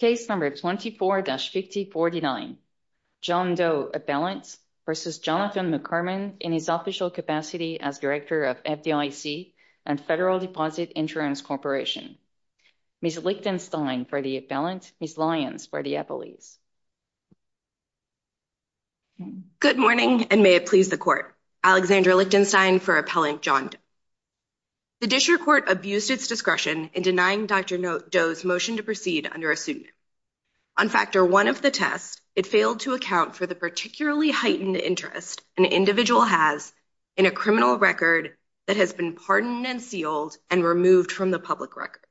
in his official capacity as Director of FDIC and Federal Deposit Insurance Corporation. Ms. Lichtenstein for the appellant, Ms. Lyons for the appellees. Good morning, and may it please the Court. Alexandra Lichtenstein for Appellant John Doe. The District Court abused its discretion in denying Dr. Doe's motion to proceed under a section On factor one of the test, it failed to account for the particularly heightened interest an individual has in a criminal record that has been pardoned and sealed and removed from the public record.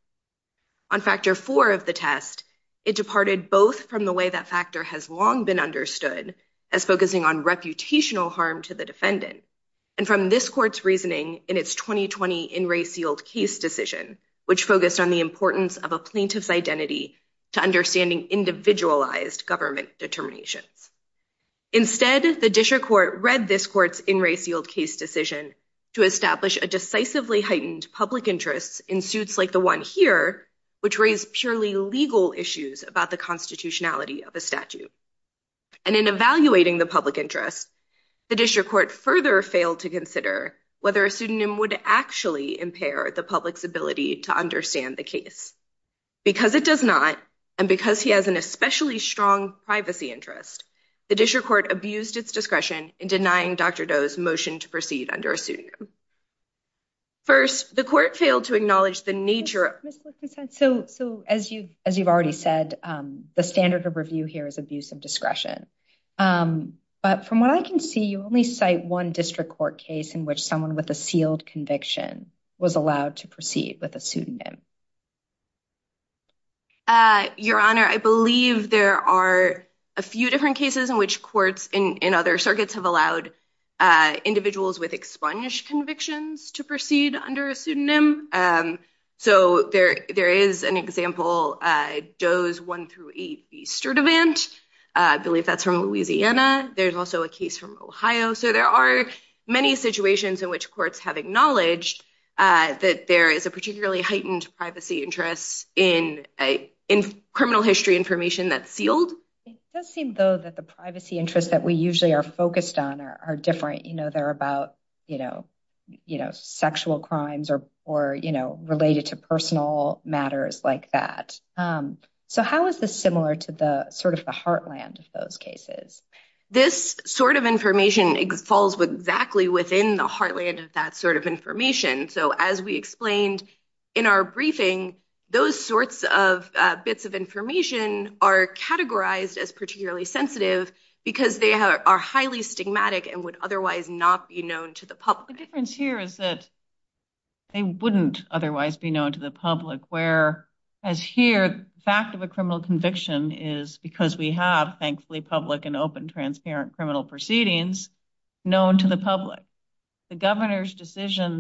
On factor four of the test, it departed both from the way that factor has long been understood as focusing on reputational harm to the defendant and from this court's reasoning in its 2020 in-ray sealed case decision, which focused on the importance of a plaintiff's identity to understanding individualized government determinations. Instead, the District Court read this court's in-ray sealed case decision to establish a decisively heightened public interest in suits like the one here, which raised purely legal issues about the constitutionality of a statute. And in evaluating the public interest, the District Court further failed to consider whether a pseudonym would actually impair the public's ability to understand the case. Because it does not, and because he has an especially strong privacy interest, the District Court abused its discretion in denying Dr. Doe's motion to proceed under a pseudonym. First, the court failed to acknowledge the nature of So as you've already said, the standard of review here is abuse of discretion. But from what I can see, you only cite one District Court case in which someone with a sealed conviction was allowed to proceed with a pseudonym. Your Honor, I believe there are a few different cases in which courts in other circuits have allowed individuals with expunged convictions to proceed under a pseudonym. So there is an example, Doe's 1-8B Sturdivant. I believe that's from Louisiana. There's also a case from Ohio. So there are many situations in which courts have acknowledged that there is a particularly heightened privacy interest in criminal history information that's sealed. It does seem, though, that the privacy interests that we usually are focused on are different. They're about sexual crimes or related to personal matters like that. So how is this similar to the sort of the heartland of those cases? This sort of information falls exactly within the heartland of that sort of information. So as we explained in our briefing, those sorts of bits of information are categorized as particularly sensitive because they are highly stigmatic and would otherwise not be known to the public. The difference here is that they wouldn't otherwise be known to the public, where as here, the fact of a criminal conviction is because we have, thankfully, public and open information. The fact that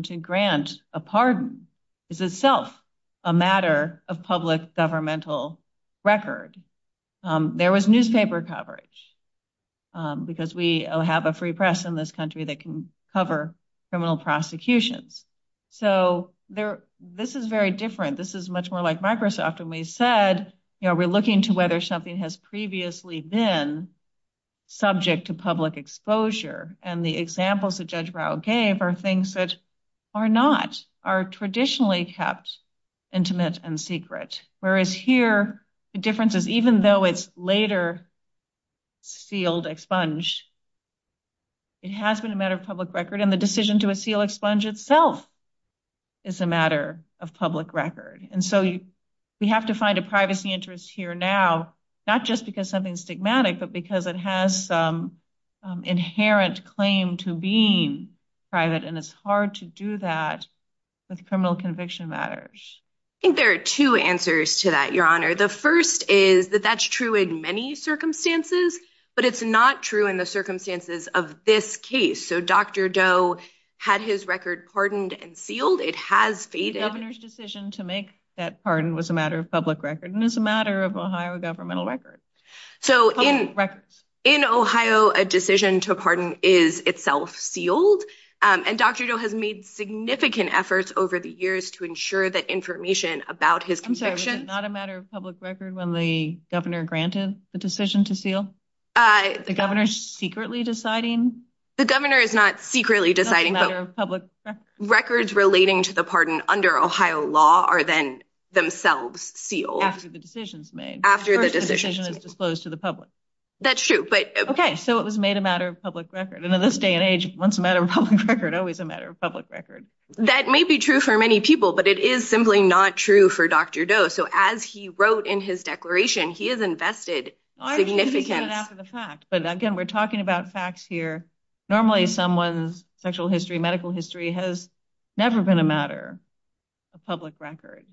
we grant a pardon is itself a matter of public governmental record. There was newspaper coverage because we have a free press in this country that can cover criminal prosecutions. So this is very different. This is much more like Microsoft. And we said we're looking to whether something has previously been subject to public exposure. And the examples that Judge Rao gave are things that are not, are traditionally kept intimate and secret. Whereas here, the difference is even though it's later sealed expunge, it has been a matter of public record. And the decision to seal expunge itself is a matter of public record. And so we have to find a privacy interest here now, not just because something is stigmatic, but because it has some inherent claim to being private. And it's hard to do that with criminal conviction matters. I think there are two answers to that, Your Honor. The first is that that's true in many circumstances, but it's not true in the circumstances of this case. So Dr. Doe had his record pardoned and sealed. It has faded. The governor's decision to make that pardon was a matter of public record and is a matter of Ohio governmental record. So in Ohio, a decision to pardon is itself sealed. And Dr. Doe has made significant efforts over the years to ensure that information about his convictions. I'm sorry, was it not a matter of public record when the governor granted the decision to seal? The governor's secretly deciding? The governor is not secretly deciding, but records relating to the pardon under Ohio law are then themselves sealed. After the decision is made. After the decision is disclosed to the public. That's true. OK, so it was made a matter of public record. And in this day and age, once a matter of public record, always a matter of public record. That may be true for many people, but it is simply not true for Dr. Doe. So as he wrote in his declaration, he has invested significance. I'm just saying that after the fact. But again, we're talking about facts here. Normally, someone's sexual history, medical history has never been a matter of public record.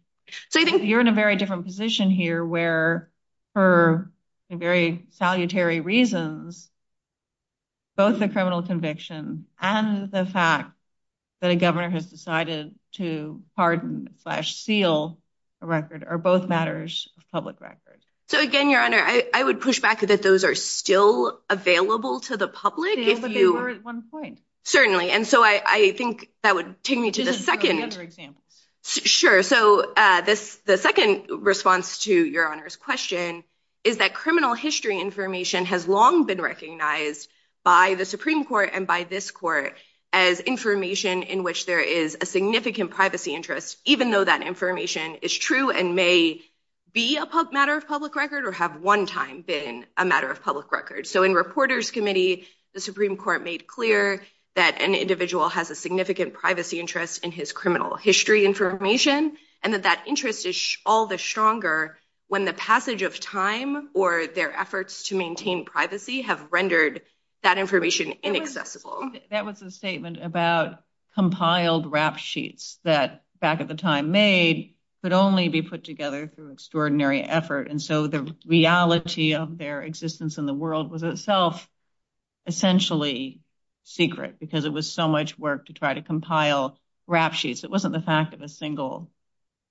So I think you're in a very different position here where for very salutary reasons, both the criminal conviction and the fact that a governor has decided to pardon slash seal a record are both matters of public record. So again, Your Honor, I would push back that those are still available to the public. Certainly. And so I think that would take me to the second example. Sure. So this the second response to your honor's question is that criminal history information has long been recognized by the Supreme Court and by this court as information in which there is a significant privacy interest, even though that information is true and may be a matter of public record or have one time been a matter of public record. So in reporters committee, the Supreme Court made clear that an individual has a significant privacy interest in his criminal history information and that that interest is all the stronger when the passage of time or their efforts to maintain privacy have rendered that information inaccessible. That was a statement about compiled rap sheets that back at the time made could only be put together through extraordinary effort. And so the reality of their existence in the world was itself essentially secret because it was so much work to try to compile rap sheets. It wasn't the fact of a single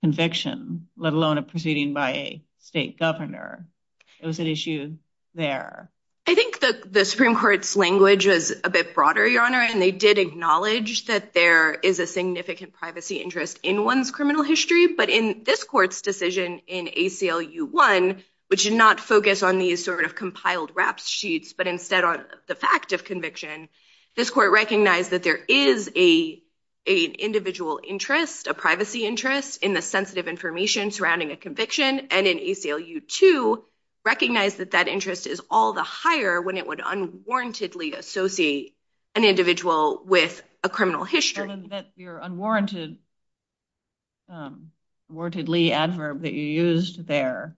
conviction, let alone a proceeding by a state governor. It was an issue there. I think the Supreme Court's language is a bit broader, Your Honor, and they did acknowledge that there is a significant privacy interest in one's criminal history. But in this court's decision in ACLU-1, which did not focus on these sort of compiled rap sheets, but instead on the fact of conviction, this court recognized that there is a individual interest, a privacy interest in the sensitive information surrounding a conviction. And in ACLU-2, recognized that that interest is all the higher when it would unwarrantedly associate an individual with a criminal history. Your unwarrantedly adverb that you used there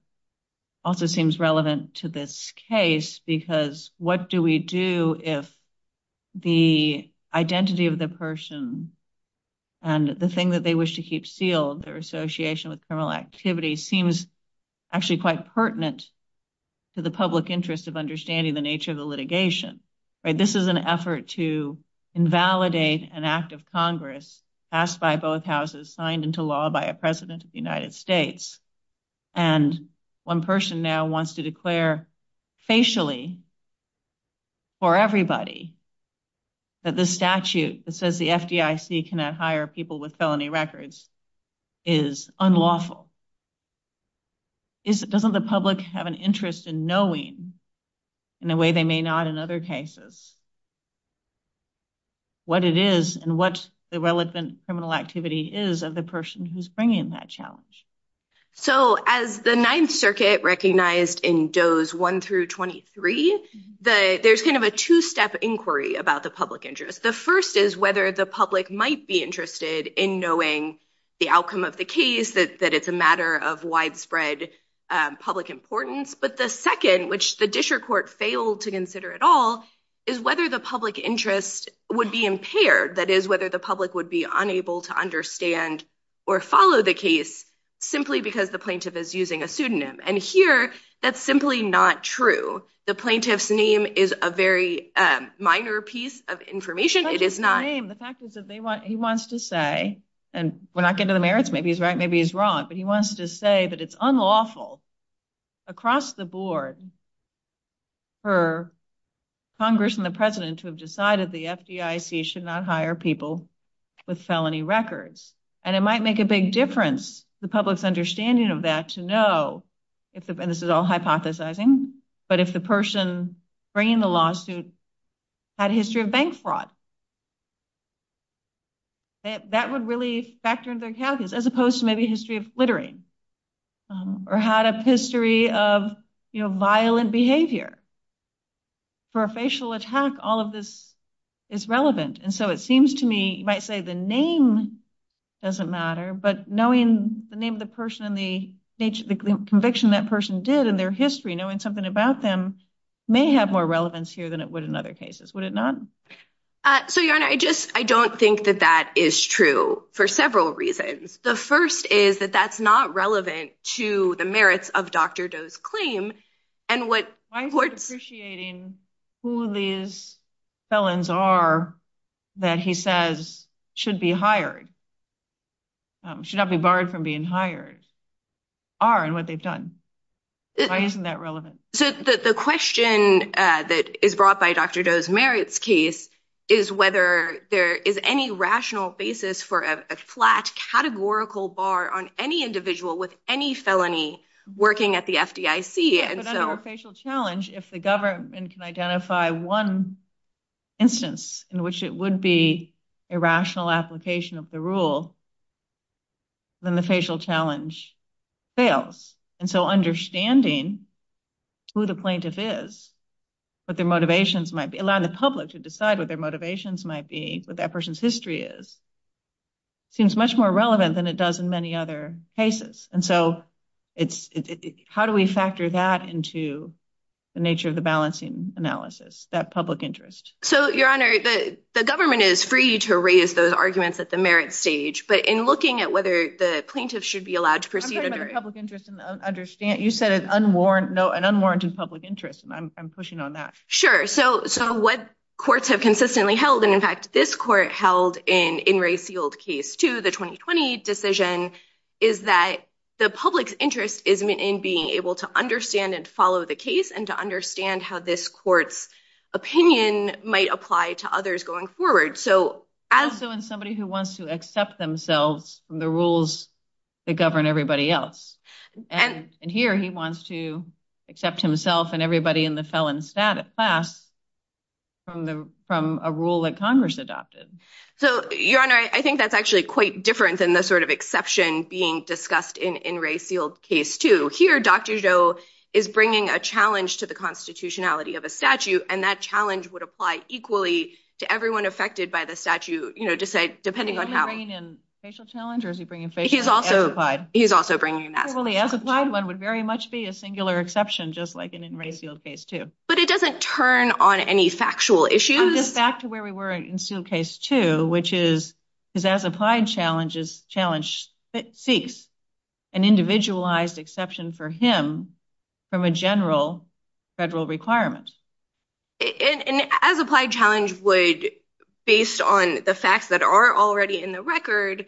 also seems relevant to this case because what do we do if the identity of the person and the thing that they wish to keep sealed, their association with criminal activity seems actually quite pertinent to the public interest of understanding the nature of the litigation. This is an effort to invalidate an act of Congress passed by both houses, signed into law by a president of the United States. And one person now wants to declare facially for everybody that the statute that says the FDIC cannot hire people with felony records is unlawful. Doesn't the public have an interest in knowing in a way they may not in other cases what it is and what the relevant criminal activity is of the person who's bringing that challenge? So as the Ninth Circuit recognized in Doe's 1-23, there's kind of a two-step inquiry about the public interest. The first is whether the public might be interested in knowing the outcome of the case, that it's a matter of widespread public importance. But the second, which the Disher court failed to consider at all, is whether the public interest would be impaired. That is, whether the public would be unable to understand or follow the case simply because the plaintiff is using a pseudonym. And here, that's simply not true. The plaintiff's name is a very minor piece of information. It is not... He wants to say, and we're not getting to the merits, maybe he's right, maybe he's wrong, but he wants to say that it's unlawful across the board for Congress and the President to have decided the FDIC should not hire people with felony records. And it might make a big difference to the public's understanding of that to know, and this is all hypothesizing, but if the person bringing the lawsuit had a history of bank fraud. That would really factor into their case, as opposed to maybe a history of littering. Or had a history of violent behavior. For a facial attack, all of this is relevant. And so it seems to me, you might say the name doesn't matter, but knowing the name of the person and the conviction that person did and their history, knowing something about them, may have more relevance here than it would in other cases. Would it not? So, Your Honor, I don't think that that is true for several reasons. The first is that that's not relevant to the merits of Dr. Doe's claim. Why is he appreciating who these felons are that he says should be hired? Should not be barred from being hired. Are, and what they've done. Why isn't that relevant? So the question that is brought by Dr. Doe's merits case is whether there is any rational basis for a flat categorical bar on any individual with any felony working at the FDIC. But under a facial challenge, if the government can identify one instance in which it would be a rational application of the rule, then the facial challenge fails. And so understanding who the plaintiff is, what their motivations might be, allowing the public to decide what their motivations might be, what that person's history is, seems much more relevant than it does in many other cases. And so it's how do we factor that into the nature of the balancing analysis? That public interest. So, Your Honor, the government is free to raise those arguments at the merits stage. But in looking at whether the plaintiff should be allowed to proceed under public interest and understand, you said, an unwarranted public interest. And I'm pushing on that. Sure. So what courts have consistently held? And in fact, this court held in in Ray Seald case to the 2020 decision is that the public's interest is in being able to understand and follow the case and to understand how this court's opinion might apply to others going forward. So as so in somebody who wants to accept themselves from the rules that govern everybody else. And here he wants to accept himself and everybody in the felon status class from the from a rule that Congress adopted. So, Your Honor, I think that's actually quite different than the sort of exception being discussed in in Ray Seald case to hear Dr. Joe is bringing a challenge to the constitutionality of a statue. And that challenge would apply equally to everyone affected by the statue, you know, to say, depending on how he's also he's also bringing one would very much be a singular exception, just like an in Ray Seald case, too. But it doesn't turn on any factual issues. Back to where we were in case two, which is his as applied challenges challenge that seeks an individualized exception for him from a general federal requirement. And as applied challenge would, based on the facts that are already in the record,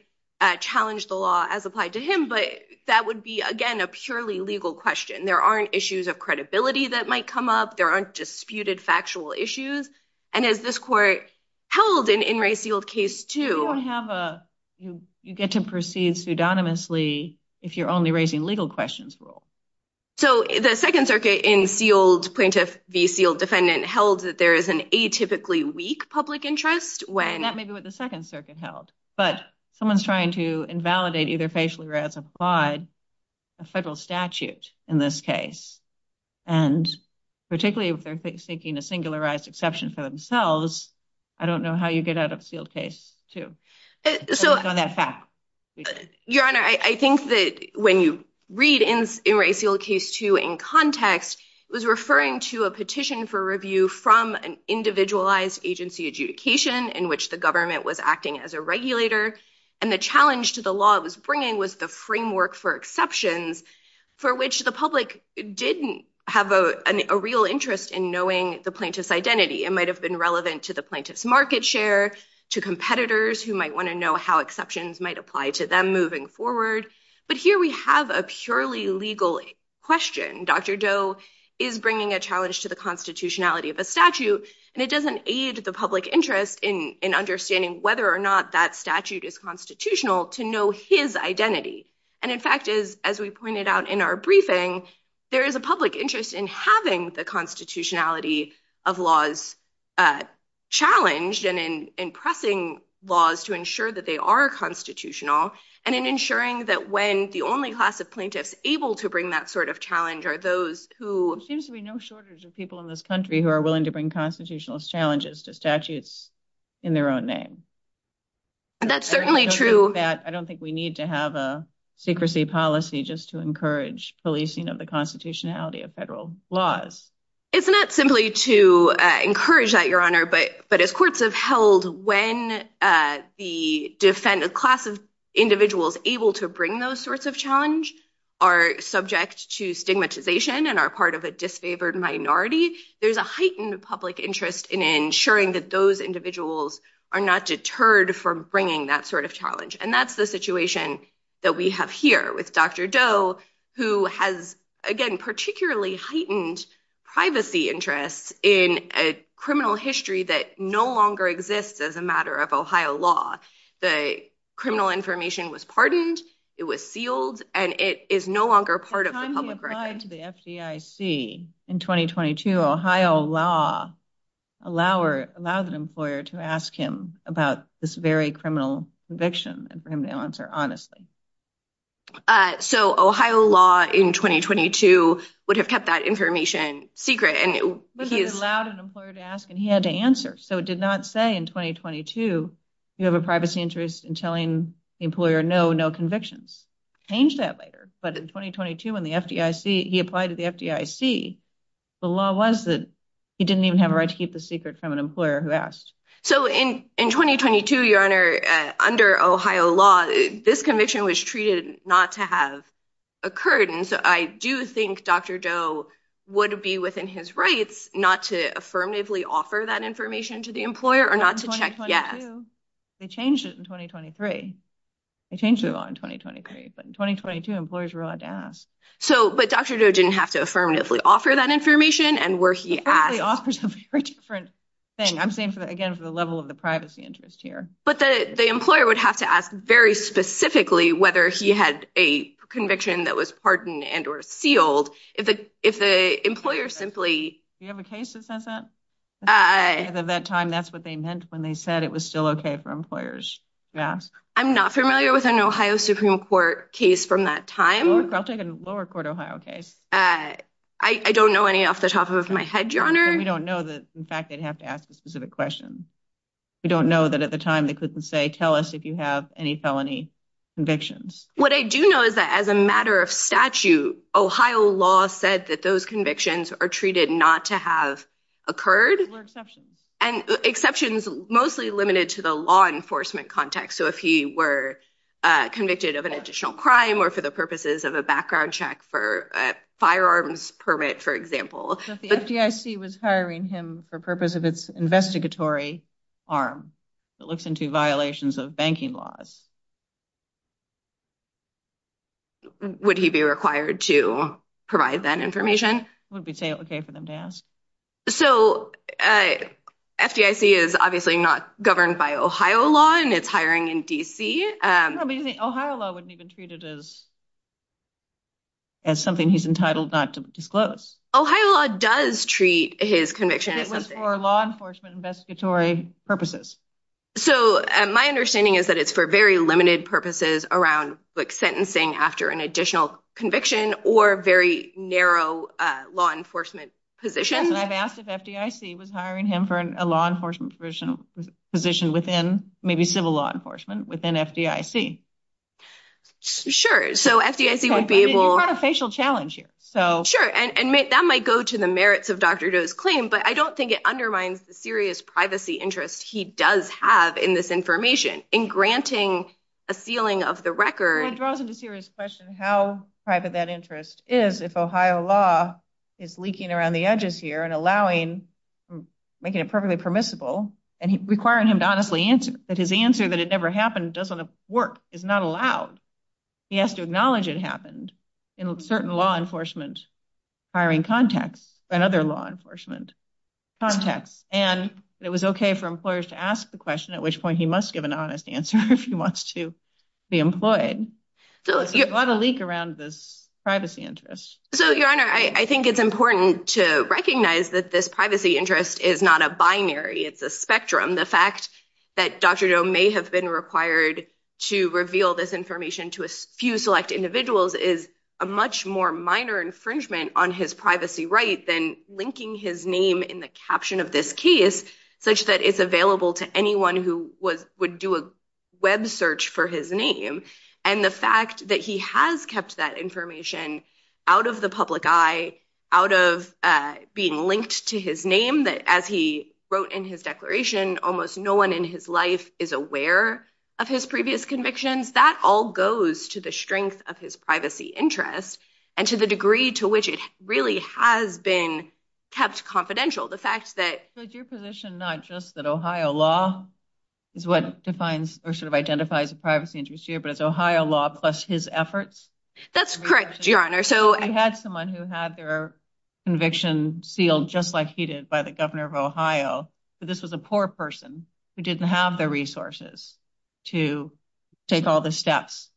challenge the law as applied to him. But that would be, again, a purely legal question. There aren't issues of credibility that might come up. There aren't disputed factual issues. And as this court held in in Ray Seald case to have a you get to proceed pseudonymously if you're only raising legal questions. So the Second Circuit in sealed plaintiff sealed defendant held that there is an atypically weak public interest when that may be what the Second Circuit held. But someone's trying to invalidate either facially or as applied a federal statute. In this case, and particularly if they're thinking a singularized exception for themselves. I don't know how you get out of sealed case to that fact. Your Honor, I think that when you read in in Ray Seald case to in context, it was referring to a petition for review from an individualized agency adjudication in which the government was acting as a regulator. And the challenge to the law was bringing was the framework for exceptions for which the public didn't have a real interest in knowing the plaintiff's identity. It might have been relevant to the plaintiff's market share to competitors who might want to know how exceptions might apply to them moving forward. But here we have a purely legal question. Dr. Doe is bringing a challenge to the constitutionality of a statute, and it doesn't aid the public interest in understanding whether or not that statute is constitutional to know his identity. And in fact, is, as we pointed out in our briefing, there is a public interest in having the constitutionality of laws challenged and in impressing laws to ensure that they are constitutional and in ensuring that when the only class of plaintiffs able to bring that sort of challenge are those who seems to be no shortage of people in this country who are willing to bring constitutional challenges to statutes in their own name. That's certainly true. I don't think we need to have a secrecy policy just to encourage policing of the constitutionality of federal laws. It's not simply to encourage that, Your Honor. But but as courts have held when the defendant class of individuals able to bring those sorts of challenge are subject to stigmatization and are part of a disfavored minority, there's a heightened public interest in ensuring that those individuals are not deterred from bringing that sort of challenge. And that's the situation that we have here with Dr. Doe, who has, again, particularly heightened privacy interests in a criminal history that no longer exists as a matter of Ohio law. The criminal information was pardoned, it was sealed, and it is no longer part of the public record. By the time he applied to the FDIC in 2022, Ohio law allowed an employer to ask him about this very criminal conviction and for him to answer honestly. So Ohio law in 2022 would have kept that information secret. It allowed an employer to ask and he had to answer. So it did not say in 2022, you have a privacy interest in telling the employer, no, no convictions. Change that later. But in 2022, when the FDIC, he applied to the FDIC, the law was that he didn't even have a right to keep the secret from an employer who asked. So in in 2022, Your Honor, under Ohio law, this conviction was treated not to have occurred. And so I do think Dr. Doe would be within his rights not to affirmatively offer that information to the employer or not to check. Yes, they changed it in 2023. They changed the law in 2023. But in 2022, employers were allowed to ask. So but Dr. Doe didn't have to affirmatively offer that information and where he offers a very different thing. I'm saying, again, for the level of the privacy interest here. But the employer would have to ask very specifically whether he had a conviction that was pardoned and or sealed if the if the employer simply. You have a case that says that at that time, that's what they meant when they said it was still OK for employers. Yes. I'm not familiar with an Ohio Supreme Court case from that time. I'll take a lower court Ohio case. I don't know any off the top of my head, Your Honor. We don't know that. In fact, they'd have to ask a specific question. We don't know that at the time they couldn't say, tell us if you have any felony convictions. What I do know is that as a matter of statute, Ohio law said that those convictions are treated not to have occurred. And exceptions mostly limited to the law enforcement context. So if he were convicted of an additional crime or for the purposes of a background check for firearms permit, for example. But the FDIC was hiring him for purpose of its investigatory arm that looks into violations of banking laws. Would he be required to provide that information? Would be OK for them to ask. So FDIC is obviously not governed by Ohio law and it's hiring in D.C. Ohio law wouldn't even treat it as. As something he's entitled not to disclose. Ohio law does treat his conviction as for law enforcement investigatory purposes. So my understanding is that it's for very limited purposes around sentencing after an additional conviction or very narrow law enforcement positions. And I've asked if FDIC was hiring him for a law enforcement position within maybe civil law enforcement within FDIC. Sure. So FDIC would be able to have a facial challenge here. So sure. And that might go to the merits of Dr. Joe's claim. But I don't think it undermines the serious privacy interest he does have in this information in granting a sealing of the record. It draws into serious question how private that interest is. If Ohio law is leaking around the edges here and allowing making it perfectly permissible and requiring him to honestly answer that his answer that it never happened doesn't work is not allowed. He has to acknowledge it happened in certain law enforcement hiring context and other law enforcement context. And it was OK for employers to ask the question, at which point he must give an honest answer if he wants to be employed. So you have a leak around this privacy interest. So, Your Honor, I think it's important to recognize that this privacy interest is not a binary. It's a spectrum. The fact that Dr. Joe may have been required to reveal this information to a few select individuals is a much more minor infringement on his privacy right than linking his name in the caption of this case such that it's available to anyone who would do a Web search for his name. And the fact that he has kept that information out of the public eye, out of being linked to his name, that as he wrote in his declaration, almost no one in his life is aware of his previous convictions, that all goes to the strength of his privacy interest and to the degree to which it really has been kept confidential. The fact that your position, not just that Ohio law is what defines or sort of identifies a privacy interest here, but it's Ohio law plus his efforts. That's correct. Your Honor. So I had someone who had their conviction sealed just like he did by the governor of Ohio. But this was a poor person who didn't have the resources to take all the steps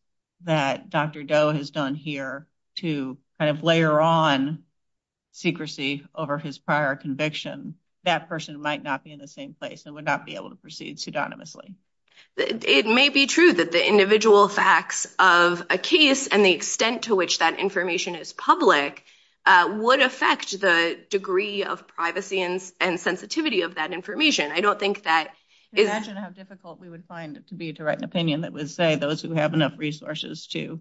that Dr. Doe has done here to kind of layer on secrecy over his prior conviction. That person might not be in the same place and would not be able to proceed pseudonymously. It may be true that the individual facts of a case and the extent to which that information is public would affect the degree of privacy and sensitivity of that information. I don't think that is how difficult we would find it to be to write an opinion that would say those who have enough resources to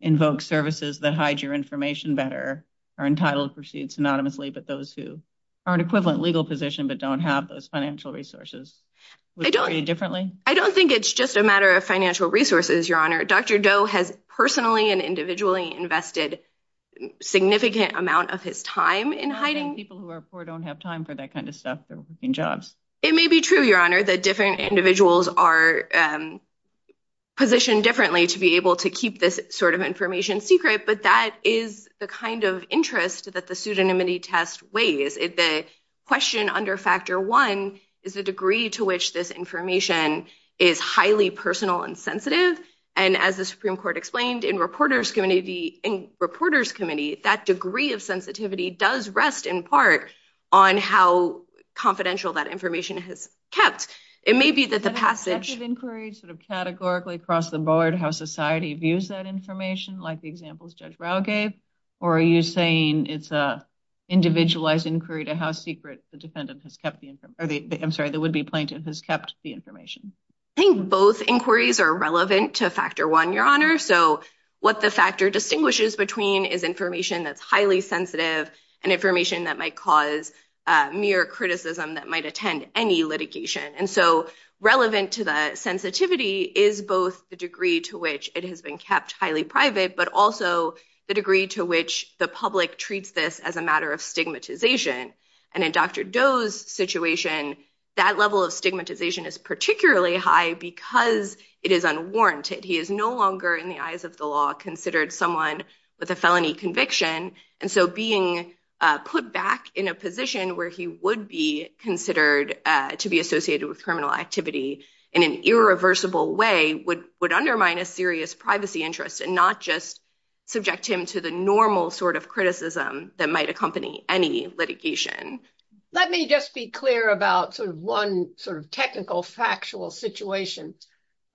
invoke services that hide your information better are entitled to proceed synonymously. But those who are in equivalent legal position, but don't have those financial resources differently. I don't think it's just a matter of financial resources. Your Honor. Dr. Doe has personally and individually invested significant amount of his time in hiding people who are poor, don't have time for that kind of stuff. It may be true, Your Honor, that different individuals are positioned differently to be able to keep this sort of information secret. But that is the kind of interest that the pseudonymity test weighs. The question under factor one is the degree to which this information is highly personal and sensitive. And as the Supreme Court explained in Reporters Committee, that degree of sensitivity does rest in part on how confidential that information has kept. It may be that the passage of inquiries sort of categorically across the board, how society views that information, like the examples Judge Rao gave, or are you saying it's a individualized inquiry to how secret the defendant has kept the information? I'm sorry, the would be plaintiff has kept the information. I think both inquiries are relevant to factor one, Your Honor. So what the factor distinguishes between is information that's highly sensitive and information that might cause mere criticism that might attend any litigation. And so relevant to the sensitivity is both the degree to which it has been kept highly private, but also the degree to which the public treats this as a matter of stigmatization. And in Dr. Doe's situation, that level of stigmatization is particularly high because it is unwarranted. He is no longer in the eyes of the law considered someone with a felony conviction. And so being put back in a position where he would be considered to be associated with criminal activity in an irreversible way would undermine a serious privacy interest and not just subject him to the normal sort of criticism that might accompany any litigation. Let me just be clear about sort of one sort of technical factual situation.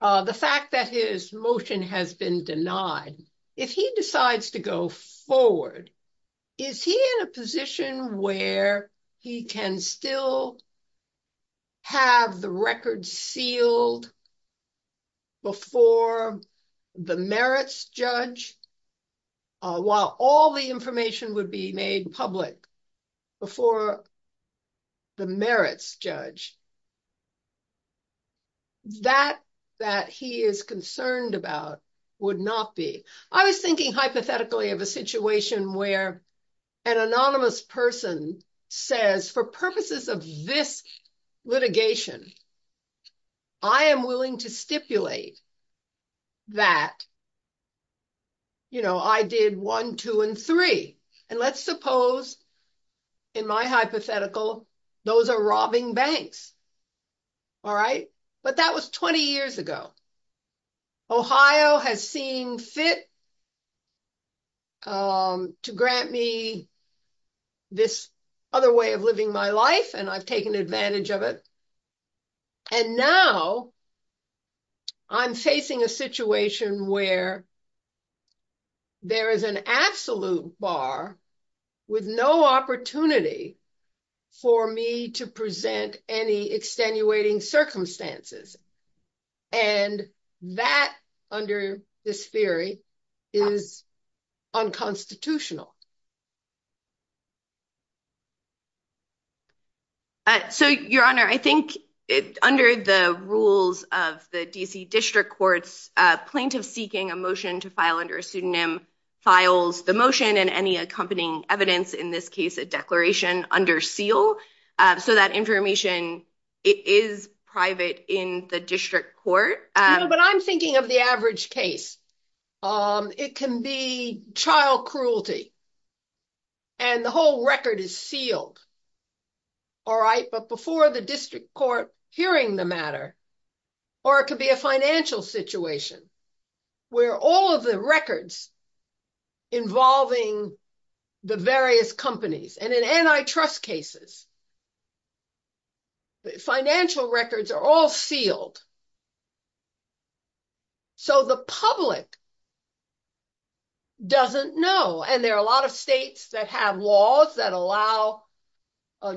The fact that his motion has been denied, if he decides to go forward, is he in a position where he can still have the record sealed before the merits judge? While all the information would be made public before the merits judge, that that he is concerned about would not be. I was thinking hypothetically of a situation where an anonymous person says for purposes of this litigation, I am willing to stipulate that I did one, two, and three. And let's suppose in my hypothetical, those are robbing banks. All right. But that was 20 years ago. Ohio has seen fit to grant me this other way of living my life, and I've taken advantage of it. And now I'm facing a situation where there is an absolute bar with no opportunity for me to present any extenuating circumstances. And that under this theory is unconstitutional. So, Your Honor, I think under the rules of the D.C. district courts, plaintiff seeking a motion to file under a pseudonym files the motion and any accompanying evidence in this case, a declaration under seal. So that information is private in the district court. But I'm thinking of the average case. It can be child cruelty. And the whole record is sealed. All right. But before the district court hearing the matter, or it could be a financial situation where all of the records involving the various companies and an antitrust cases. Financial records are all sealed. So the public doesn't know. And there are a lot of states that have laws that allow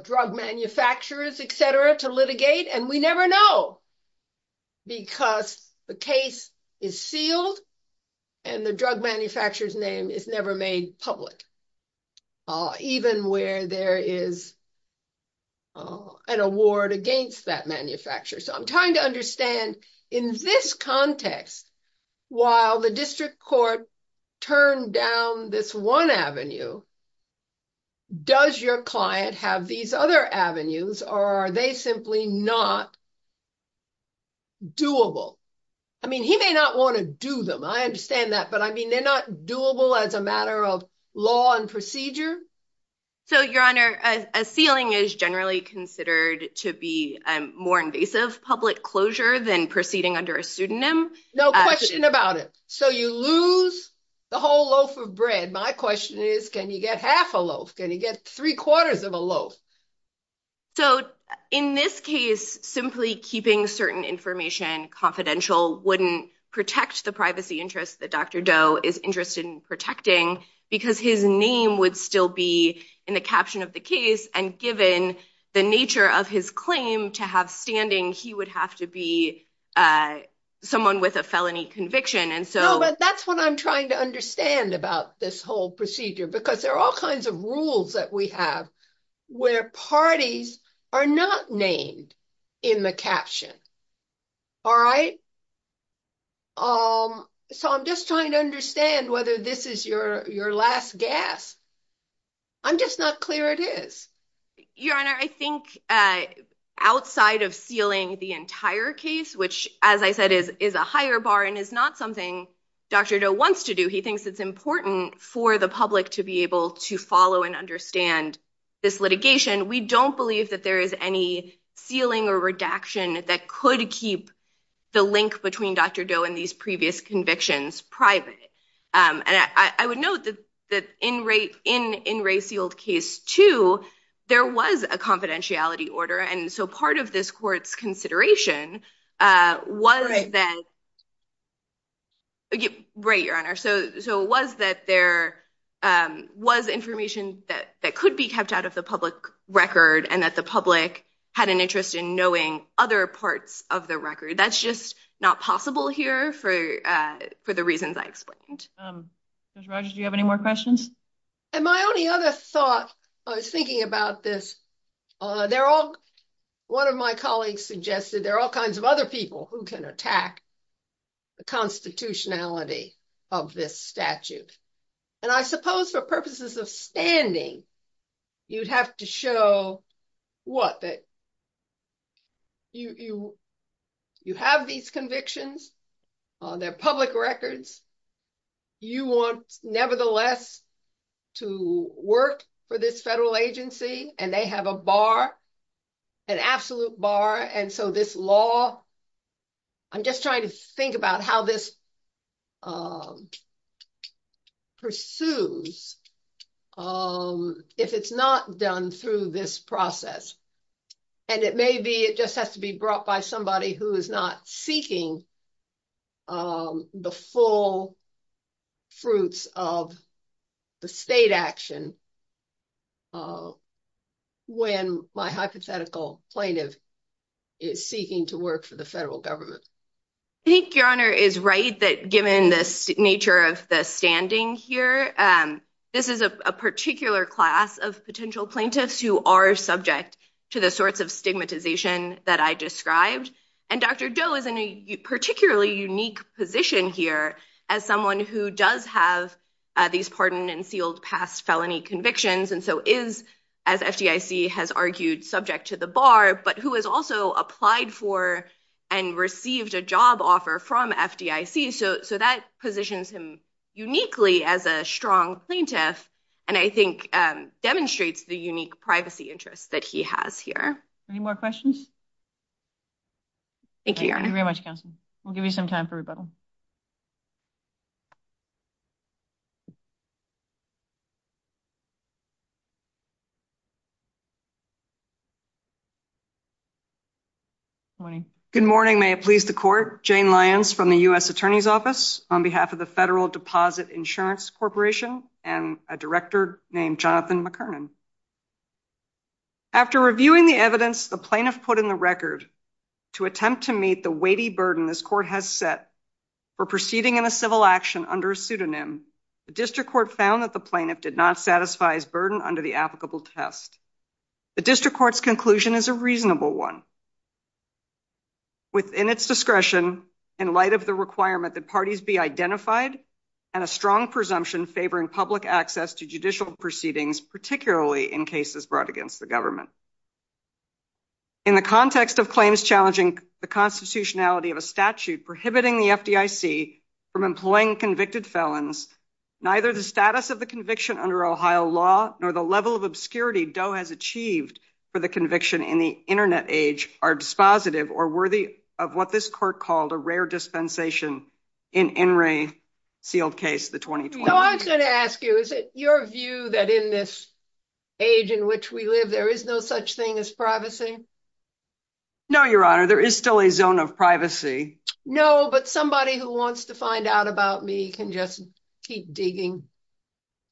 drug manufacturers, et cetera, to litigate. And we never know. Because the case is sealed and the drug manufacturer's name is never made public, even where there is an award against that manufacturer. So I'm trying to understand in this context, while the district court turned down this one avenue, does your client have these other avenues or are they simply not doable? I mean, he may not want to do them. I understand that. But I mean, they're not doable as a matter of law and procedure. So, Your Honor, a sealing is generally considered to be more invasive public closure than proceeding under a pseudonym. No question about it. So you lose the whole loaf of bread. My question is, can you get half a loaf? Can you get three quarters of a loaf? So in this case, simply keeping certain information confidential wouldn't protect the privacy interests that Dr. Doe is interested in protecting because his name would still be in the caption of the case. And given the nature of his claim to have standing, he would have to be someone with a felony conviction. No, but that's what I'm trying to understand about this whole procedure, because there are all kinds of rules that we have where parties are not named in the caption. All right. So I'm just trying to understand whether this is your last gas. I'm just not clear it is. Your Honor, I think outside of sealing the entire case, which, as I said, is is a higher bar and is not something Dr. Doe wants to do. He thinks it's important for the public to be able to follow and understand this litigation. We don't believe that there is any sealing or redaction that could keep the link between Dr. Doe and these previous convictions private. And I would note that that in rate in in Ray sealed case two, there was a confidentiality order. And so part of this court's consideration was that. Right, Your Honor. So so it was that there was information that that could be kept out of the public record and that the public had an interest in knowing other parts of the record. That's just not possible here for for the reasons I explained. Roger, do you have any more questions? And my only other thought I was thinking about this. They're all one of my colleagues suggested there are all kinds of other people who can attack the constitutionality of this statute. And I suppose for purposes of standing, you'd have to show what that. You you have these convictions on their public records. You want, nevertheless, to work for this federal agency and they have a bar, an absolute bar. And so this law. I'm just trying to think about how this pursues if it's not done through this process and it may be it just has to be brought by somebody who is not seeking the full fruits of the state action. When my hypothetical plaintiff is seeking to work for the federal government, I think your honor is right that given this nature of the standing here, this is a particular class of potential plaintiffs who are subject to the sorts of stigmatization that I described. And Dr. Doe is in a particularly unique position here as someone who does have these pardon and sealed past felony convictions and so is, as FDIC has argued, subject to the bar, but who has also applied for and received a job offer from FDIC. So so that positions him uniquely as a strong plaintiff. And I think demonstrates the unique privacy interests that he has here. Any more questions? Thank you very much. We'll give you some time for rebuttal. Good morning. May it please the court Jane Lyons from the US Attorney's Office on behalf of the Federal Deposit Insurance Corporation and a director named Jonathan McKernan. After reviewing the evidence, the plaintiff put in the record to attempt to meet the weighty burden this court has set for proceeding in a civil action under a pseudonym. The district court found that the plaintiff did not satisfy his burden under the applicable test. The district court's conclusion is a reasonable one. Within its discretion, in light of the requirement that parties be identified and a strong presumption favoring public access to judicial proceedings, particularly in cases brought against the government. In the context of claims challenging the constitutionality of a statute prohibiting the FDIC from employing convicted felons, neither the status of the conviction under Ohio law nor the level of obscurity DOE has achieved for the conviction in the Internet age are dispositive or worthy of what this court called a rare dispensation in In re sealed case. I'm going to ask you, is it your view that in this age in which we live, there is no such thing as privacy? No, your honor, there is still a zone of privacy. No, but somebody who wants to find out about me can just keep digging,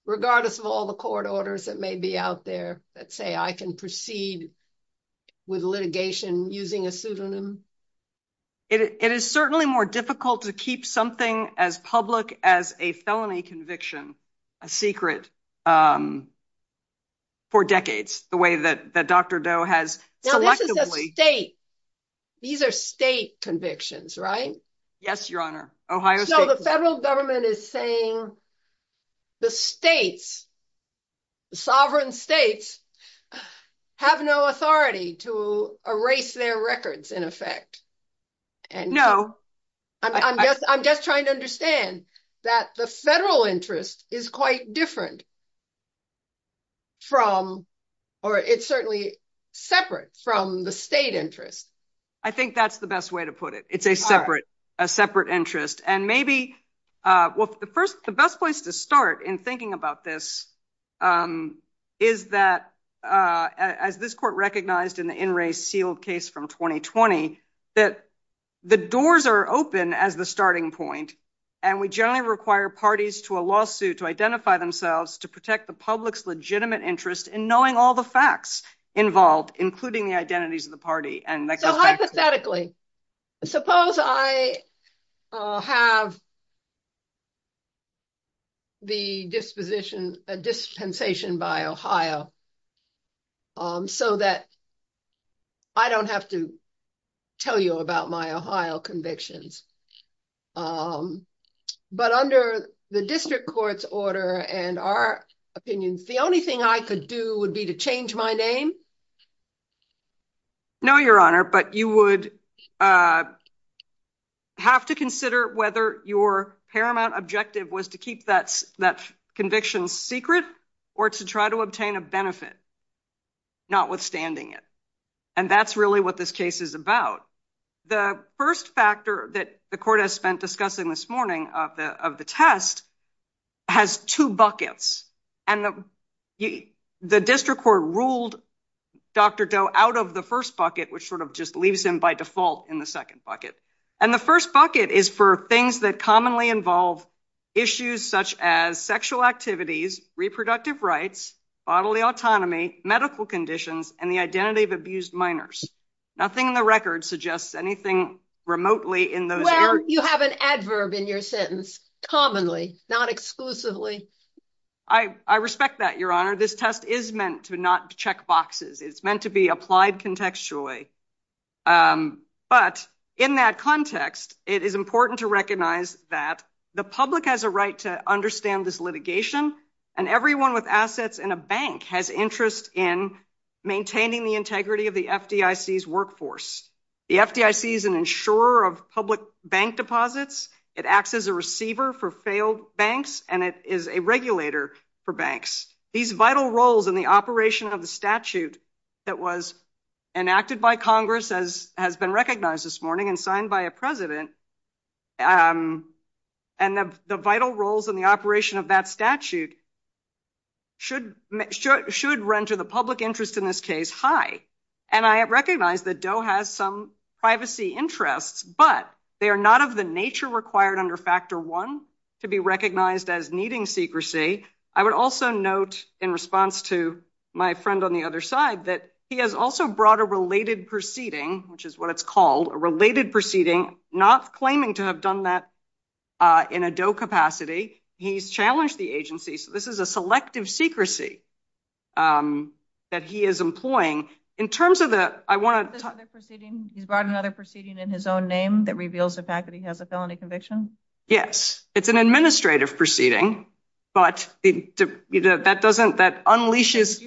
regardless of all the court orders that may be out there that say I can proceed with litigation using a pseudonym. It is certainly more difficult to keep something as public as a felony conviction, a secret. For decades, the way that Dr. Doe has. These are state convictions, right? Yes, your honor. The federal government is saying the states. Sovereign states have no authority to erase their records in effect. And no, I'm just I'm just trying to understand that the federal interest is quite different. From or it's certainly separate from the state interest. I think that's the best way to put it. It's a separate a separate interest. And maybe the first the best place to start in thinking about this is that as this court recognized in the in re sealed case from 2020, that the doors are open as the starting point. And we generally require parties to a lawsuit to identify themselves to protect the public's legitimate interest in knowing all the facts involved, including the identities of the party. And so hypothetically, suppose I have. The disposition dispensation by Ohio. So that I don't have to tell you about my Ohio convictions. But under the district court's order and our opinions, the only thing I could do would be to change my name. No, your honor, but you would. Have to consider whether your paramount objective was to keep that that conviction secret or to try to obtain a benefit. Notwithstanding it. And that's really what this case is about. The first factor that the court has spent discussing this morning of the of the test has two buckets and the district court ruled Dr. Doe out of the first bucket, which sort of just leaves him by default in the second bucket. And the first bucket is for things that commonly involve issues such as sexual activities, reproductive rights, bodily autonomy, medical conditions and the identity of abused minors. Nothing in the record suggests anything remotely in those areas. You have an adverb in your sentence. Commonly, not exclusively. I respect that, your honor. This test is meant to not check boxes. It's meant to be applied contextually. But in that context, it is important to recognize that the public has a right to understand this litigation. And everyone with assets in a bank has interest in maintaining the integrity of the FDIC's workforce. The FDIC is an insurer of public bank deposits. It acts as a receiver for failed banks, and it is a regulator for banks. These vital roles in the operation of the statute that was enacted by Congress has been recognized this morning and signed by a president. And the vital roles in the operation of that statute should run to the public interest in this case high. And I recognize that Doe has some privacy interests, but they are not of the nature required under factor one to be recognized as needing secrecy. I would also note, in response to my friend on the other side, that he has also brought a related proceeding, which is what it's called, a related proceeding, not claiming to have done that in a Doe capacity. He's challenged the agency. So this is a selective secrecy that he is employing. In terms of the – I want to – He's brought another proceeding in his own name that reveals the fact that he has a felony conviction? Yes. It's an administrative proceeding, but that doesn't – that unleashes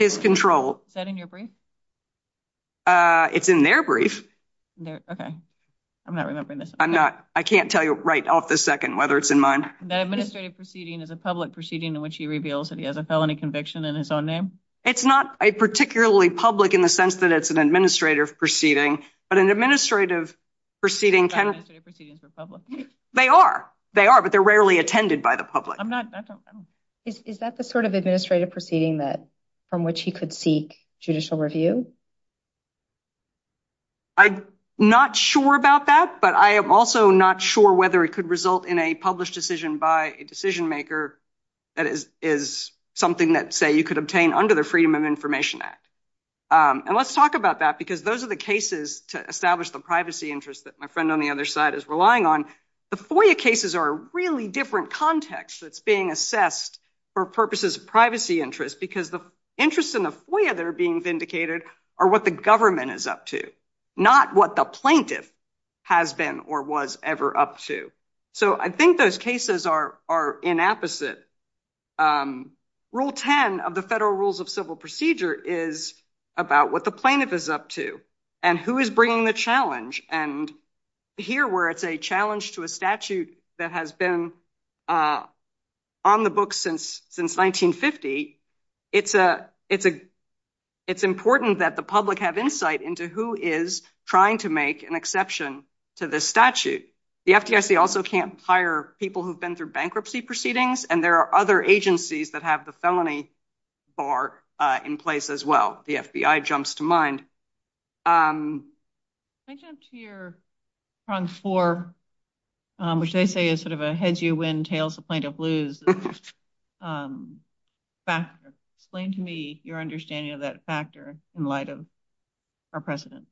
his control. Is that in your brief? It's in their brief. Okay. I'm not remembering this. I'm not – I can't tell you right off the second whether it's in mine. That administrative proceeding is a public proceeding in which he reveals that he has a felony conviction in his own name? It's not particularly public in the sense that it's an administrative proceeding, but an administrative proceeding can – Administrative proceedings are public. They are. They are, but they're rarely attended by the public. I'm not – I don't – Is that the sort of administrative proceeding that – from which he could seek judicial review? I'm not sure about that, but I am also not sure whether it could result in a published decision by a decision maker that is something that, say, you could obtain under the Freedom of Information Act. And let's talk about that because those are the cases to establish the privacy interest that my friend on the other side is relying on. The FOIA cases are a really different context that's being assessed for purposes of privacy interest because the interests in the FOIA that are being vindicated are what the government is up to, not what the plaintiff has been or was ever up to. So I think those cases are inapposite. Rule 10 of the Federal Rules of Civil Procedure is about what the plaintiff is up to and who is bringing the challenge. And here, where it's a challenge to a statute that has been on the books since 1950, it's important that the public have insight into who is trying to make an exception to this statute. The FDIC also can't hire people who've been through bankruptcy proceedings, and there are other agencies that have the felony bar in place as well. The FBI jumps to mind. Can I jump to your prong four, which they say is sort of a heads-you-win, tails-the-plaintiff-lose factor? Explain to me your understanding of that factor in light of our precedent.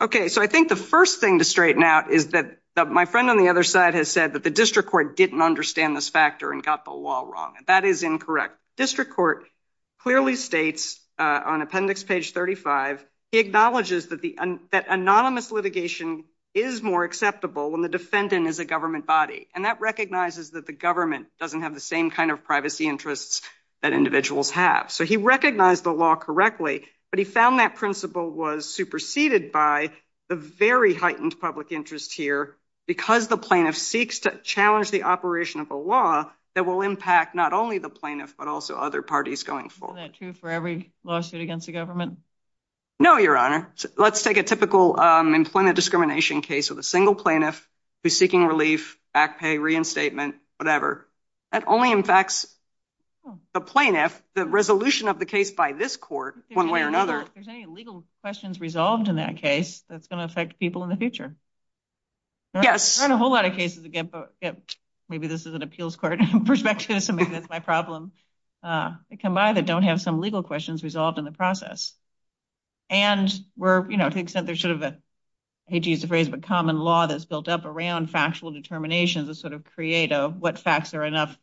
Okay, so I think the first thing to straighten out is that my friend on the other side has said that the district court didn't understand this factor and got the law wrong, and that is incorrect. District court clearly states on appendix page 35, it acknowledges that anonymous litigation is more acceptable when the defendant is a government body, and that recognizes that the government doesn't have the same kind of privacy interests that individuals have. So he recognized the law correctly, but he found that principle was superseded by the very heightened public interest here, because the plaintiff seeks to challenge the operation of a law that will impact not only the plaintiff, but also other parties going forward. Is that true for every lawsuit against the government? No, Your Honor. Let's take a typical employment discrimination case with a single plaintiff who's seeking relief, back pay, reinstatement, whatever. That only impacts the plaintiff, the resolution of the case by this court, one way or another. Are there any legal questions resolved in that case that's going to affect people in the future? Yes. There aren't a whole lot of cases, again, maybe this is an appeals court perspective, so maybe that's my problem, that come by that don't have some legal questions resolved in the process. And to the extent there's sort of a, I hate to use the phrase, but common law that's built up around factual determinations that sort of create what facts are enough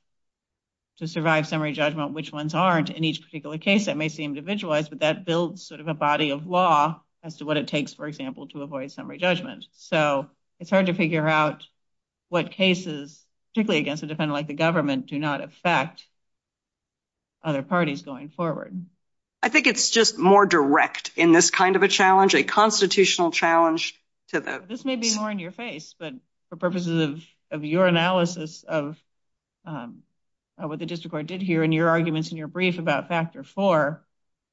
to survive summary judgment, which ones aren't. In each particular case, that may seem individualized, but that builds sort of a body of law as to what it takes, for example, to avoid summary judgment. So it's hard to figure out what cases, particularly against a defendant like the government, do not affect other parties going forward. I think it's just more direct in this kind of a challenge, a constitutional challenge. This may be more in your face, but for purposes of your analysis of what the district court did here, and your arguments in your brief about Factor 4,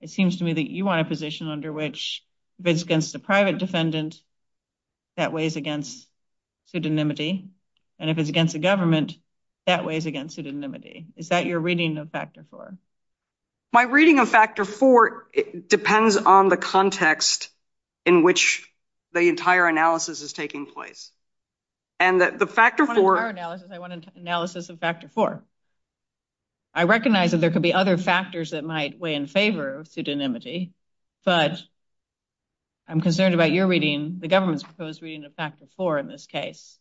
it seems to me that you want a position under which if it's against a private defendant, that weighs against pseudonymity, and if it's against the government, that weighs against pseudonymity. Is that your reading of Factor 4? My reading of Factor 4 depends on the context in which the entire analysis is taking place. I want an analysis of Factor 4. I recognize that there could be other factors that might weigh in favor of pseudonymity, but I'm concerned about your reading, the government's proposed reading of Factor 4 in this case.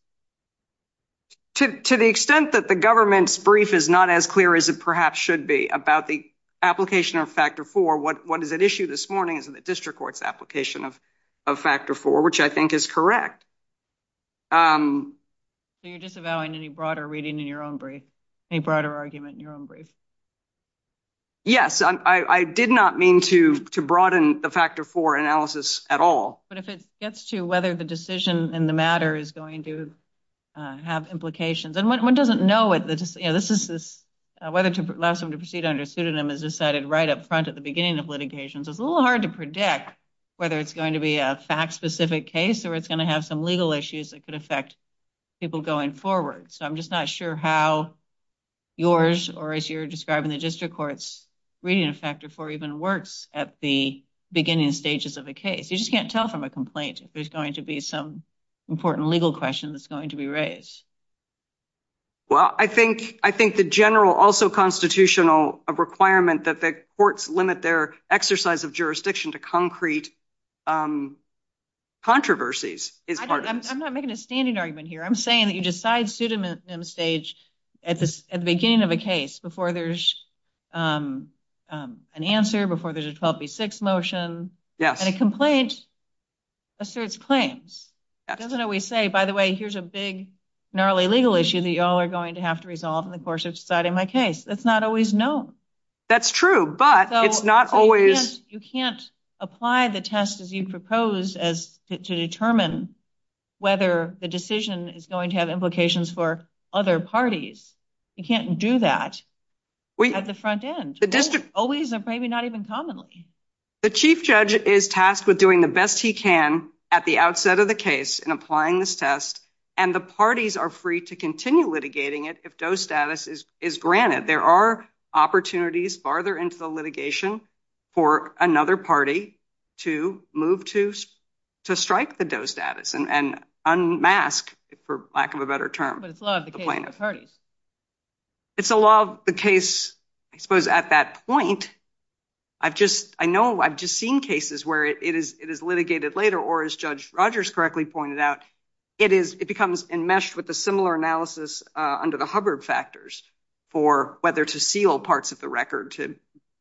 To the extent that the government's brief is not as clear as it perhaps should be about the application of Factor 4, what is at issue this morning is the district court's application of Factor 4, which I think is correct. So you're disavowing any broader reading in your own brief, any broader argument in your own brief? Yes, I did not mean to broaden the Factor 4 analysis at all. But if it gets to whether the decision in the matter is going to have implications, and one doesn't know whether to allow someone to proceed under a pseudonym is decided right up front at the beginning of litigation, so it's a little hard to predict whether it's going to be a fact-specific case or it's going to have some legal issues that could affect people going forward. So I'm just not sure how yours or as you're describing the district court's reading of Factor 4 even works at the beginning stages of a case. You just can't tell from a complaint if there's going to be some important legal question that's going to be raised. Well, I think the general also constitutional requirement that the courts limit their exercise of jurisdiction to concrete controversies is part of this. I'm not making a standing argument here. I'm saying that you decide pseudonym stage at the beginning of a case before there's an answer, before there's a 12B6 motion. Yes. And a complaint asserts claims. It doesn't always say, by the way, here's a big, gnarly legal issue that you all are going to have to resolve in the course of deciding my case. That's not always known. That's true, but it's not always... So you can't apply the test as you propose to determine whether the decision is going to have implications for other parties. You can't do that at the front end. The district... Always, or maybe not even commonly. The chief judge is tasked with doing the best he can at the outset of the case in applying this test, and the parties are free to continue litigating it if DOE status is granted. There are opportunities farther into the litigation for another party to move to strike the DOE status and unmask, for lack of a better term, the plaintiff. But it's a law of the case for parties. It's a law of the case, I suppose, at that point. I know I've just seen cases where it is litigated later, or as Judge Rogers correctly pointed out, it becomes enmeshed with a similar analysis under the Hubbard factors for whether to seal parts of the record to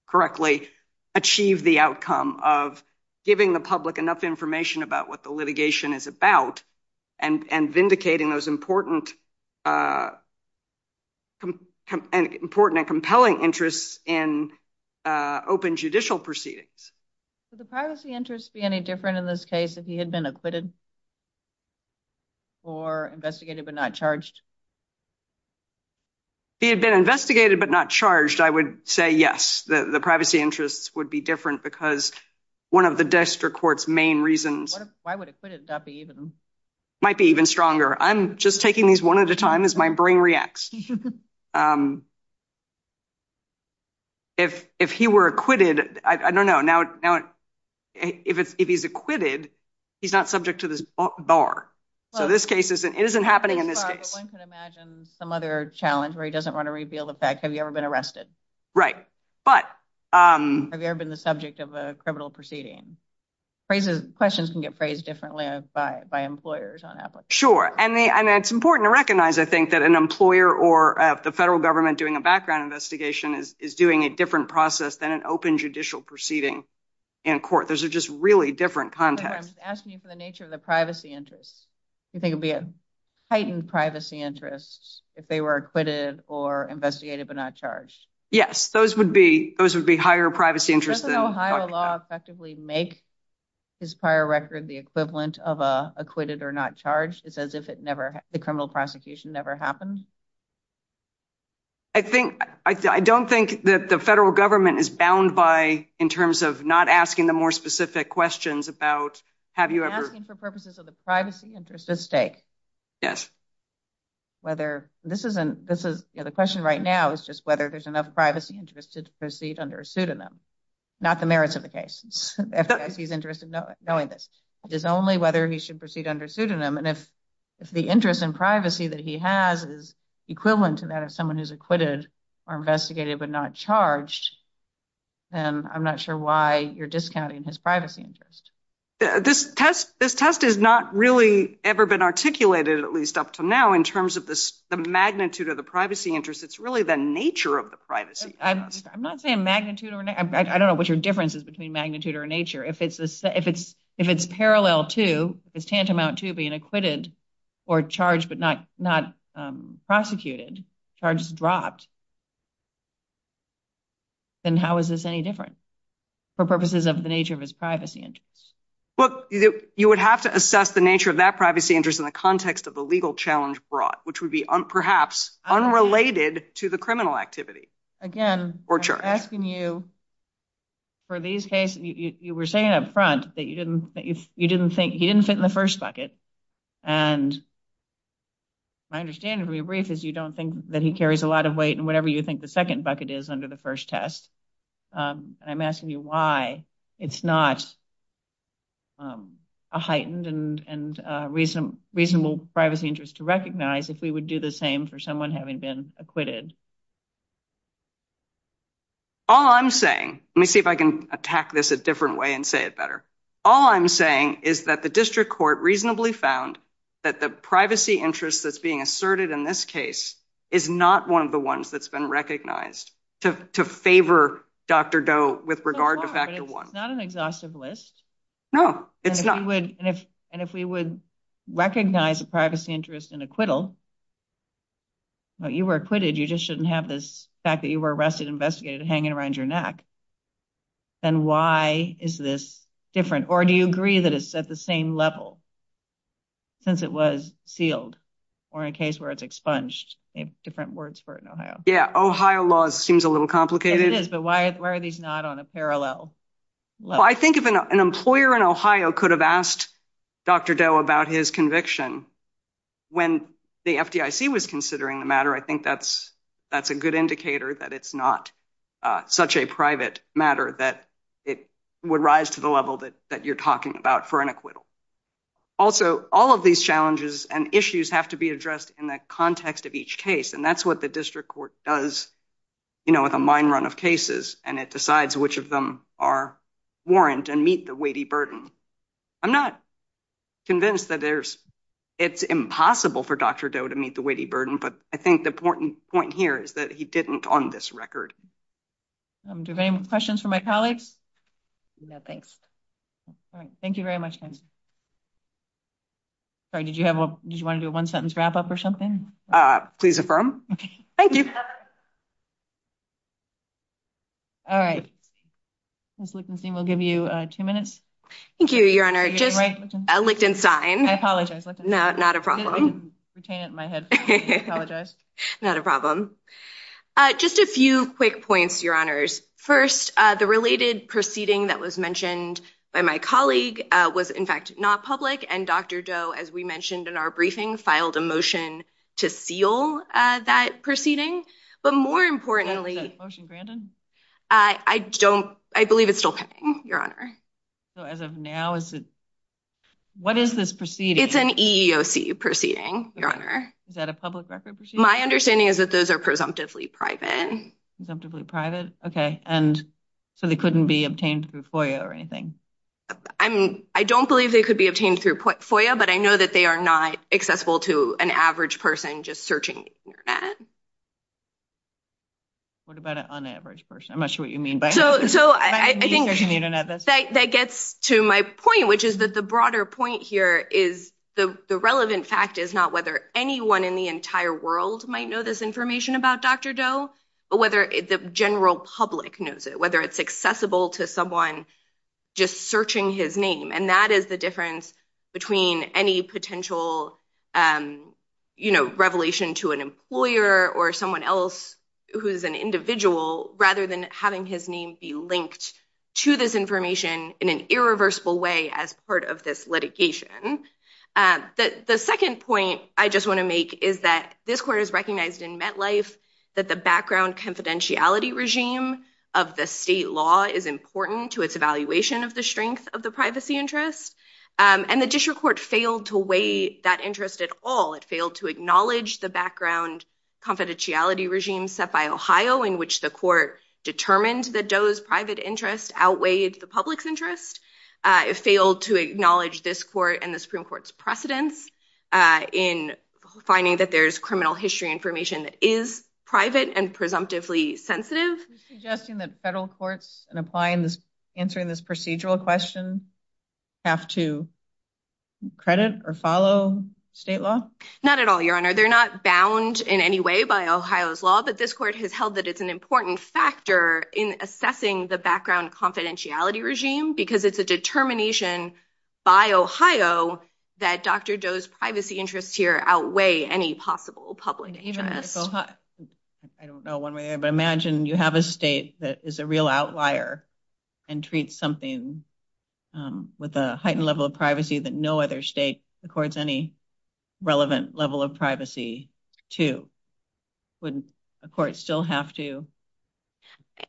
correctly achieve the outcome of giving the public enough information about what the litigation is about and vindicating those important and compelling interests in open judicial proceedings. Would the privacy interests be any different in this case if he had been acquitted or investigated but not charged? If he had been investigated but not charged, I would say yes. The privacy interests would be different because one of the district court's main reasons... Might be even stronger. I'm just taking these one at a time as my brain reacts. If he were acquitted, I don't know. Now, if he's acquitted, he's not subject to this bar. So this case isn't happening in this case. One could imagine some other challenge where he doesn't want to reveal the fact, have you ever been arrested? Right. But... Have you ever been the subject of a criminal proceeding? Questions can get phrased differently by employers. Sure. And it's important to recognize, I think, that an employer or the federal government doing a background investigation is doing a different process than an open judicial proceeding in court. Those are just really different contexts. I'm asking you for the nature of the privacy interests. You think it would be a heightened privacy interest if they were acquitted or investigated but not charged? Yes, those would be higher privacy interests. Doesn't Ohio law effectively make his prior record the equivalent of acquitted or not charged? It's as if the criminal prosecution never happened? I don't think that the federal government is bound by, in terms of not asking the more specific questions about, have you ever... I'm asking for purposes of the privacy interests at stake. Yes. The question right now is just whether there's enough privacy interest to proceed under a pseudonym. Not the merits of the case. If he's interested in knowing this. It's only whether he should proceed under a pseudonym. And if the interest in privacy that he has is equivalent to that of someone who's acquitted or investigated but not charged, then I'm not sure why you're discounting his privacy interest. This test has not really ever been articulated, at least up to now, in terms of the magnitude of the privacy interest. It's really the nature of the privacy interest. I'm not saying magnitude. I don't know what your difference is between magnitude or nature. If it's parallel to, if it's tantamount to being acquitted or charged but not prosecuted, charges dropped, then how is this any different? For purposes of the nature of his privacy interest. Well, you would have to assess the nature of that privacy interest in the context of the legal challenge brought, which would be perhaps unrelated to the criminal activity. Again, asking you for these cases, you were saying up front that you didn't, you didn't think he didn't fit in the first bucket. And my understanding of your brief is you don't think that he carries a lot of weight and whatever you think the second bucket is under the first test. I'm asking you why it's not a heightened and reasonable privacy interest to recognize if we would do the same for someone having been acquitted. All I'm saying, let me see if I can attack this a different way and say it better. All I'm saying is that the district court reasonably found that the privacy interest that's being asserted in this case is not one of the ones that's been recognized to favor Dr. Doe with regard to factor one, not an exhaustive list. No, it's not. And if, and if we would recognize the privacy interest in acquittal, you were acquitted. You just shouldn't have this fact that you were arrested, investigated, hanging around your neck. And why is this different? Or do you agree that it's at the same level since it was sealed or in a case where it's expunged different words for it in Ohio? Yeah, Ohio law seems a little complicated. But why are these not on a parallel? Well, I think if an employer in Ohio could have asked Dr. Doe about his conviction when the FDIC was considering the matter, I think that's that's a good indicator that it's not such a private matter that it would rise to the level that that you're talking about for an acquittal. Also, all of these challenges and issues have to be addressed in the context of each case. And that's what the district court does, you know, with a mine run of cases. And it decides which of them are warrant and meet the weighty burden. I'm not convinced that there's it's impossible for Dr. Doe to meet the weighty burden, but I think the important point here is that he didn't on this record. Do you have any questions for my colleagues? No, thanks. Thank you very much. Did you want to do a one sentence wrap up or something? Please affirm. Thank you. All right. We'll give you two minutes. Thank you, Your Honor. Just a Lichtenstein. I apologize. Not a problem. Retain it in my head. Apologize. Not a problem. Just a few quick points, Your Honors. First, the related proceeding that was mentioned by my colleague was, in fact, not public. And Dr. Doe, as we mentioned in our briefing, filed a motion to seal that proceeding. But more importantly, I don't I believe it's still pending, Your Honor. So as of now, is it what is this proceeding? It's an EEOC proceeding. Your Honor. Is that a public record? My understanding is that those are presumptively private. Presumptively private. Okay. And so they couldn't be obtained through FOIA or anything? I don't believe they could be obtained through FOIA. But I know that they are not accessible to an average person just searching the Internet. What about an unaveraged person? I'm not sure what you mean by that. So I think that gets to my point, which is that the broader point here is the relevant fact is not whether anyone in the entire world might know this information about Dr. Doe, but whether the general public knows it, whether it's accessible to someone just searching his name. And that is the difference between any potential, you know, revelation to an employer or someone else who is an individual, rather than having his name be linked to this information in an irreversible way as part of this litigation. The second point I just want to make is that this court has recognized in MetLife that the background confidentiality regime of the state law is important to its evaluation of the strength of the privacy interest. And the district court failed to weigh that interest at all. It failed to acknowledge the background confidentiality regime set by Ohio in which the court determined that Doe's private interest outweighed the public's interest. It failed to acknowledge this court and the Supreme Court's precedence in finding that there's criminal history information that is private and presumptively sensitive. Suggesting that federal courts and applying this answering this procedural question have to credit or follow state law? Not at all, Your Honor. They're not bound in any way by Ohio's law, but this court has held that it's an important factor in assessing the background confidentiality regime because it's a determination by Ohio that Dr. Doe's privacy interests here outweigh any possible public interest. I don't know one way or the other, but imagine you have a state that is a real outlier and treats something with a heightened level of privacy that no other state accords any relevant level of privacy to. Wouldn't a court still have to?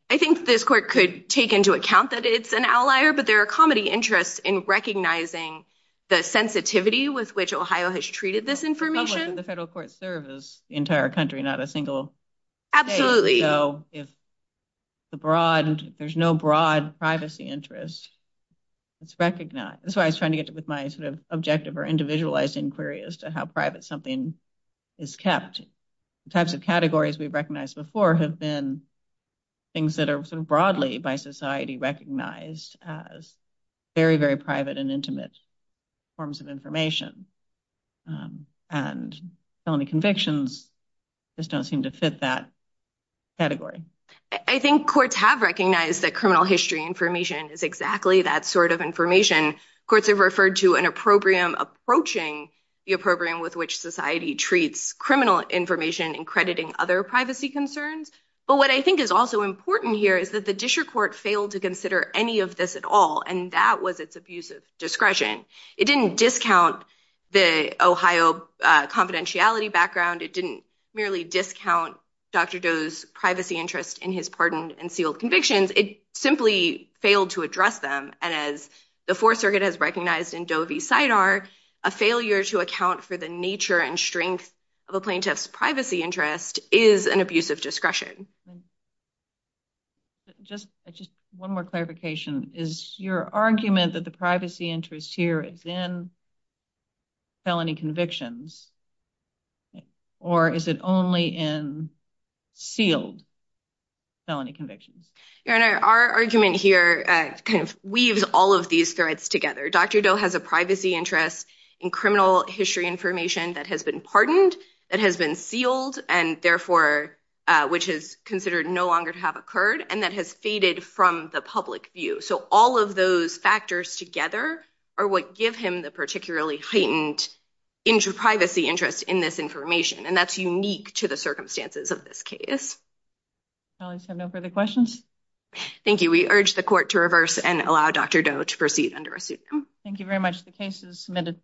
I think this court could take into account that it's an outlier, but there are comedy interests in recognizing the sensitivity with which Ohio has treated this information. The federal courts serve the entire country, not a single state. So if there's no broad privacy interest, it's recognized. That's why I was trying to get with my sort of objective or individualized inquiry as to how private something is kept. The types of categories we've recognized before have been things that are sort of broadly by society recognized as very, very private and intimate forms of information and felony convictions just don't seem to fit that category. I think courts have recognized that criminal history information is exactly that sort of information. Courts have referred to an opprobrium approaching the program with which society treats criminal information and crediting other privacy concerns. But what I think is also important here is that the district court failed to consider any of this at all. And that was its abusive discretion. It didn't discount the Ohio confidentiality background. It didn't merely discount Dr. Doe's privacy interest in his pardoned and sealed convictions. It simply failed to address them. And as the Fourth Circuit has recognized in Doe v. SIDAR, a failure to account for the nature and strength of a plaintiff's privacy interest is an abusive discretion. Just one more clarification. Is your argument that the privacy interest here is in felony convictions or is it only in sealed felony convictions? Your Honor, our argument here kind of weaves all of these threads together. Dr. Doe has a privacy interest in criminal history information that has been pardoned, that has been sealed, and therefore, which is considered no longer to have occurred, and that has faded from the public view. So all of those factors together are what give him the particularly heightened privacy interest in this information. And that's unique to the circumstances of this case. Colleagues have no further questions? Thank you. We urge the court to reverse and allow Dr. Doe to proceed under a suit. Thank you very much. The case is submitted.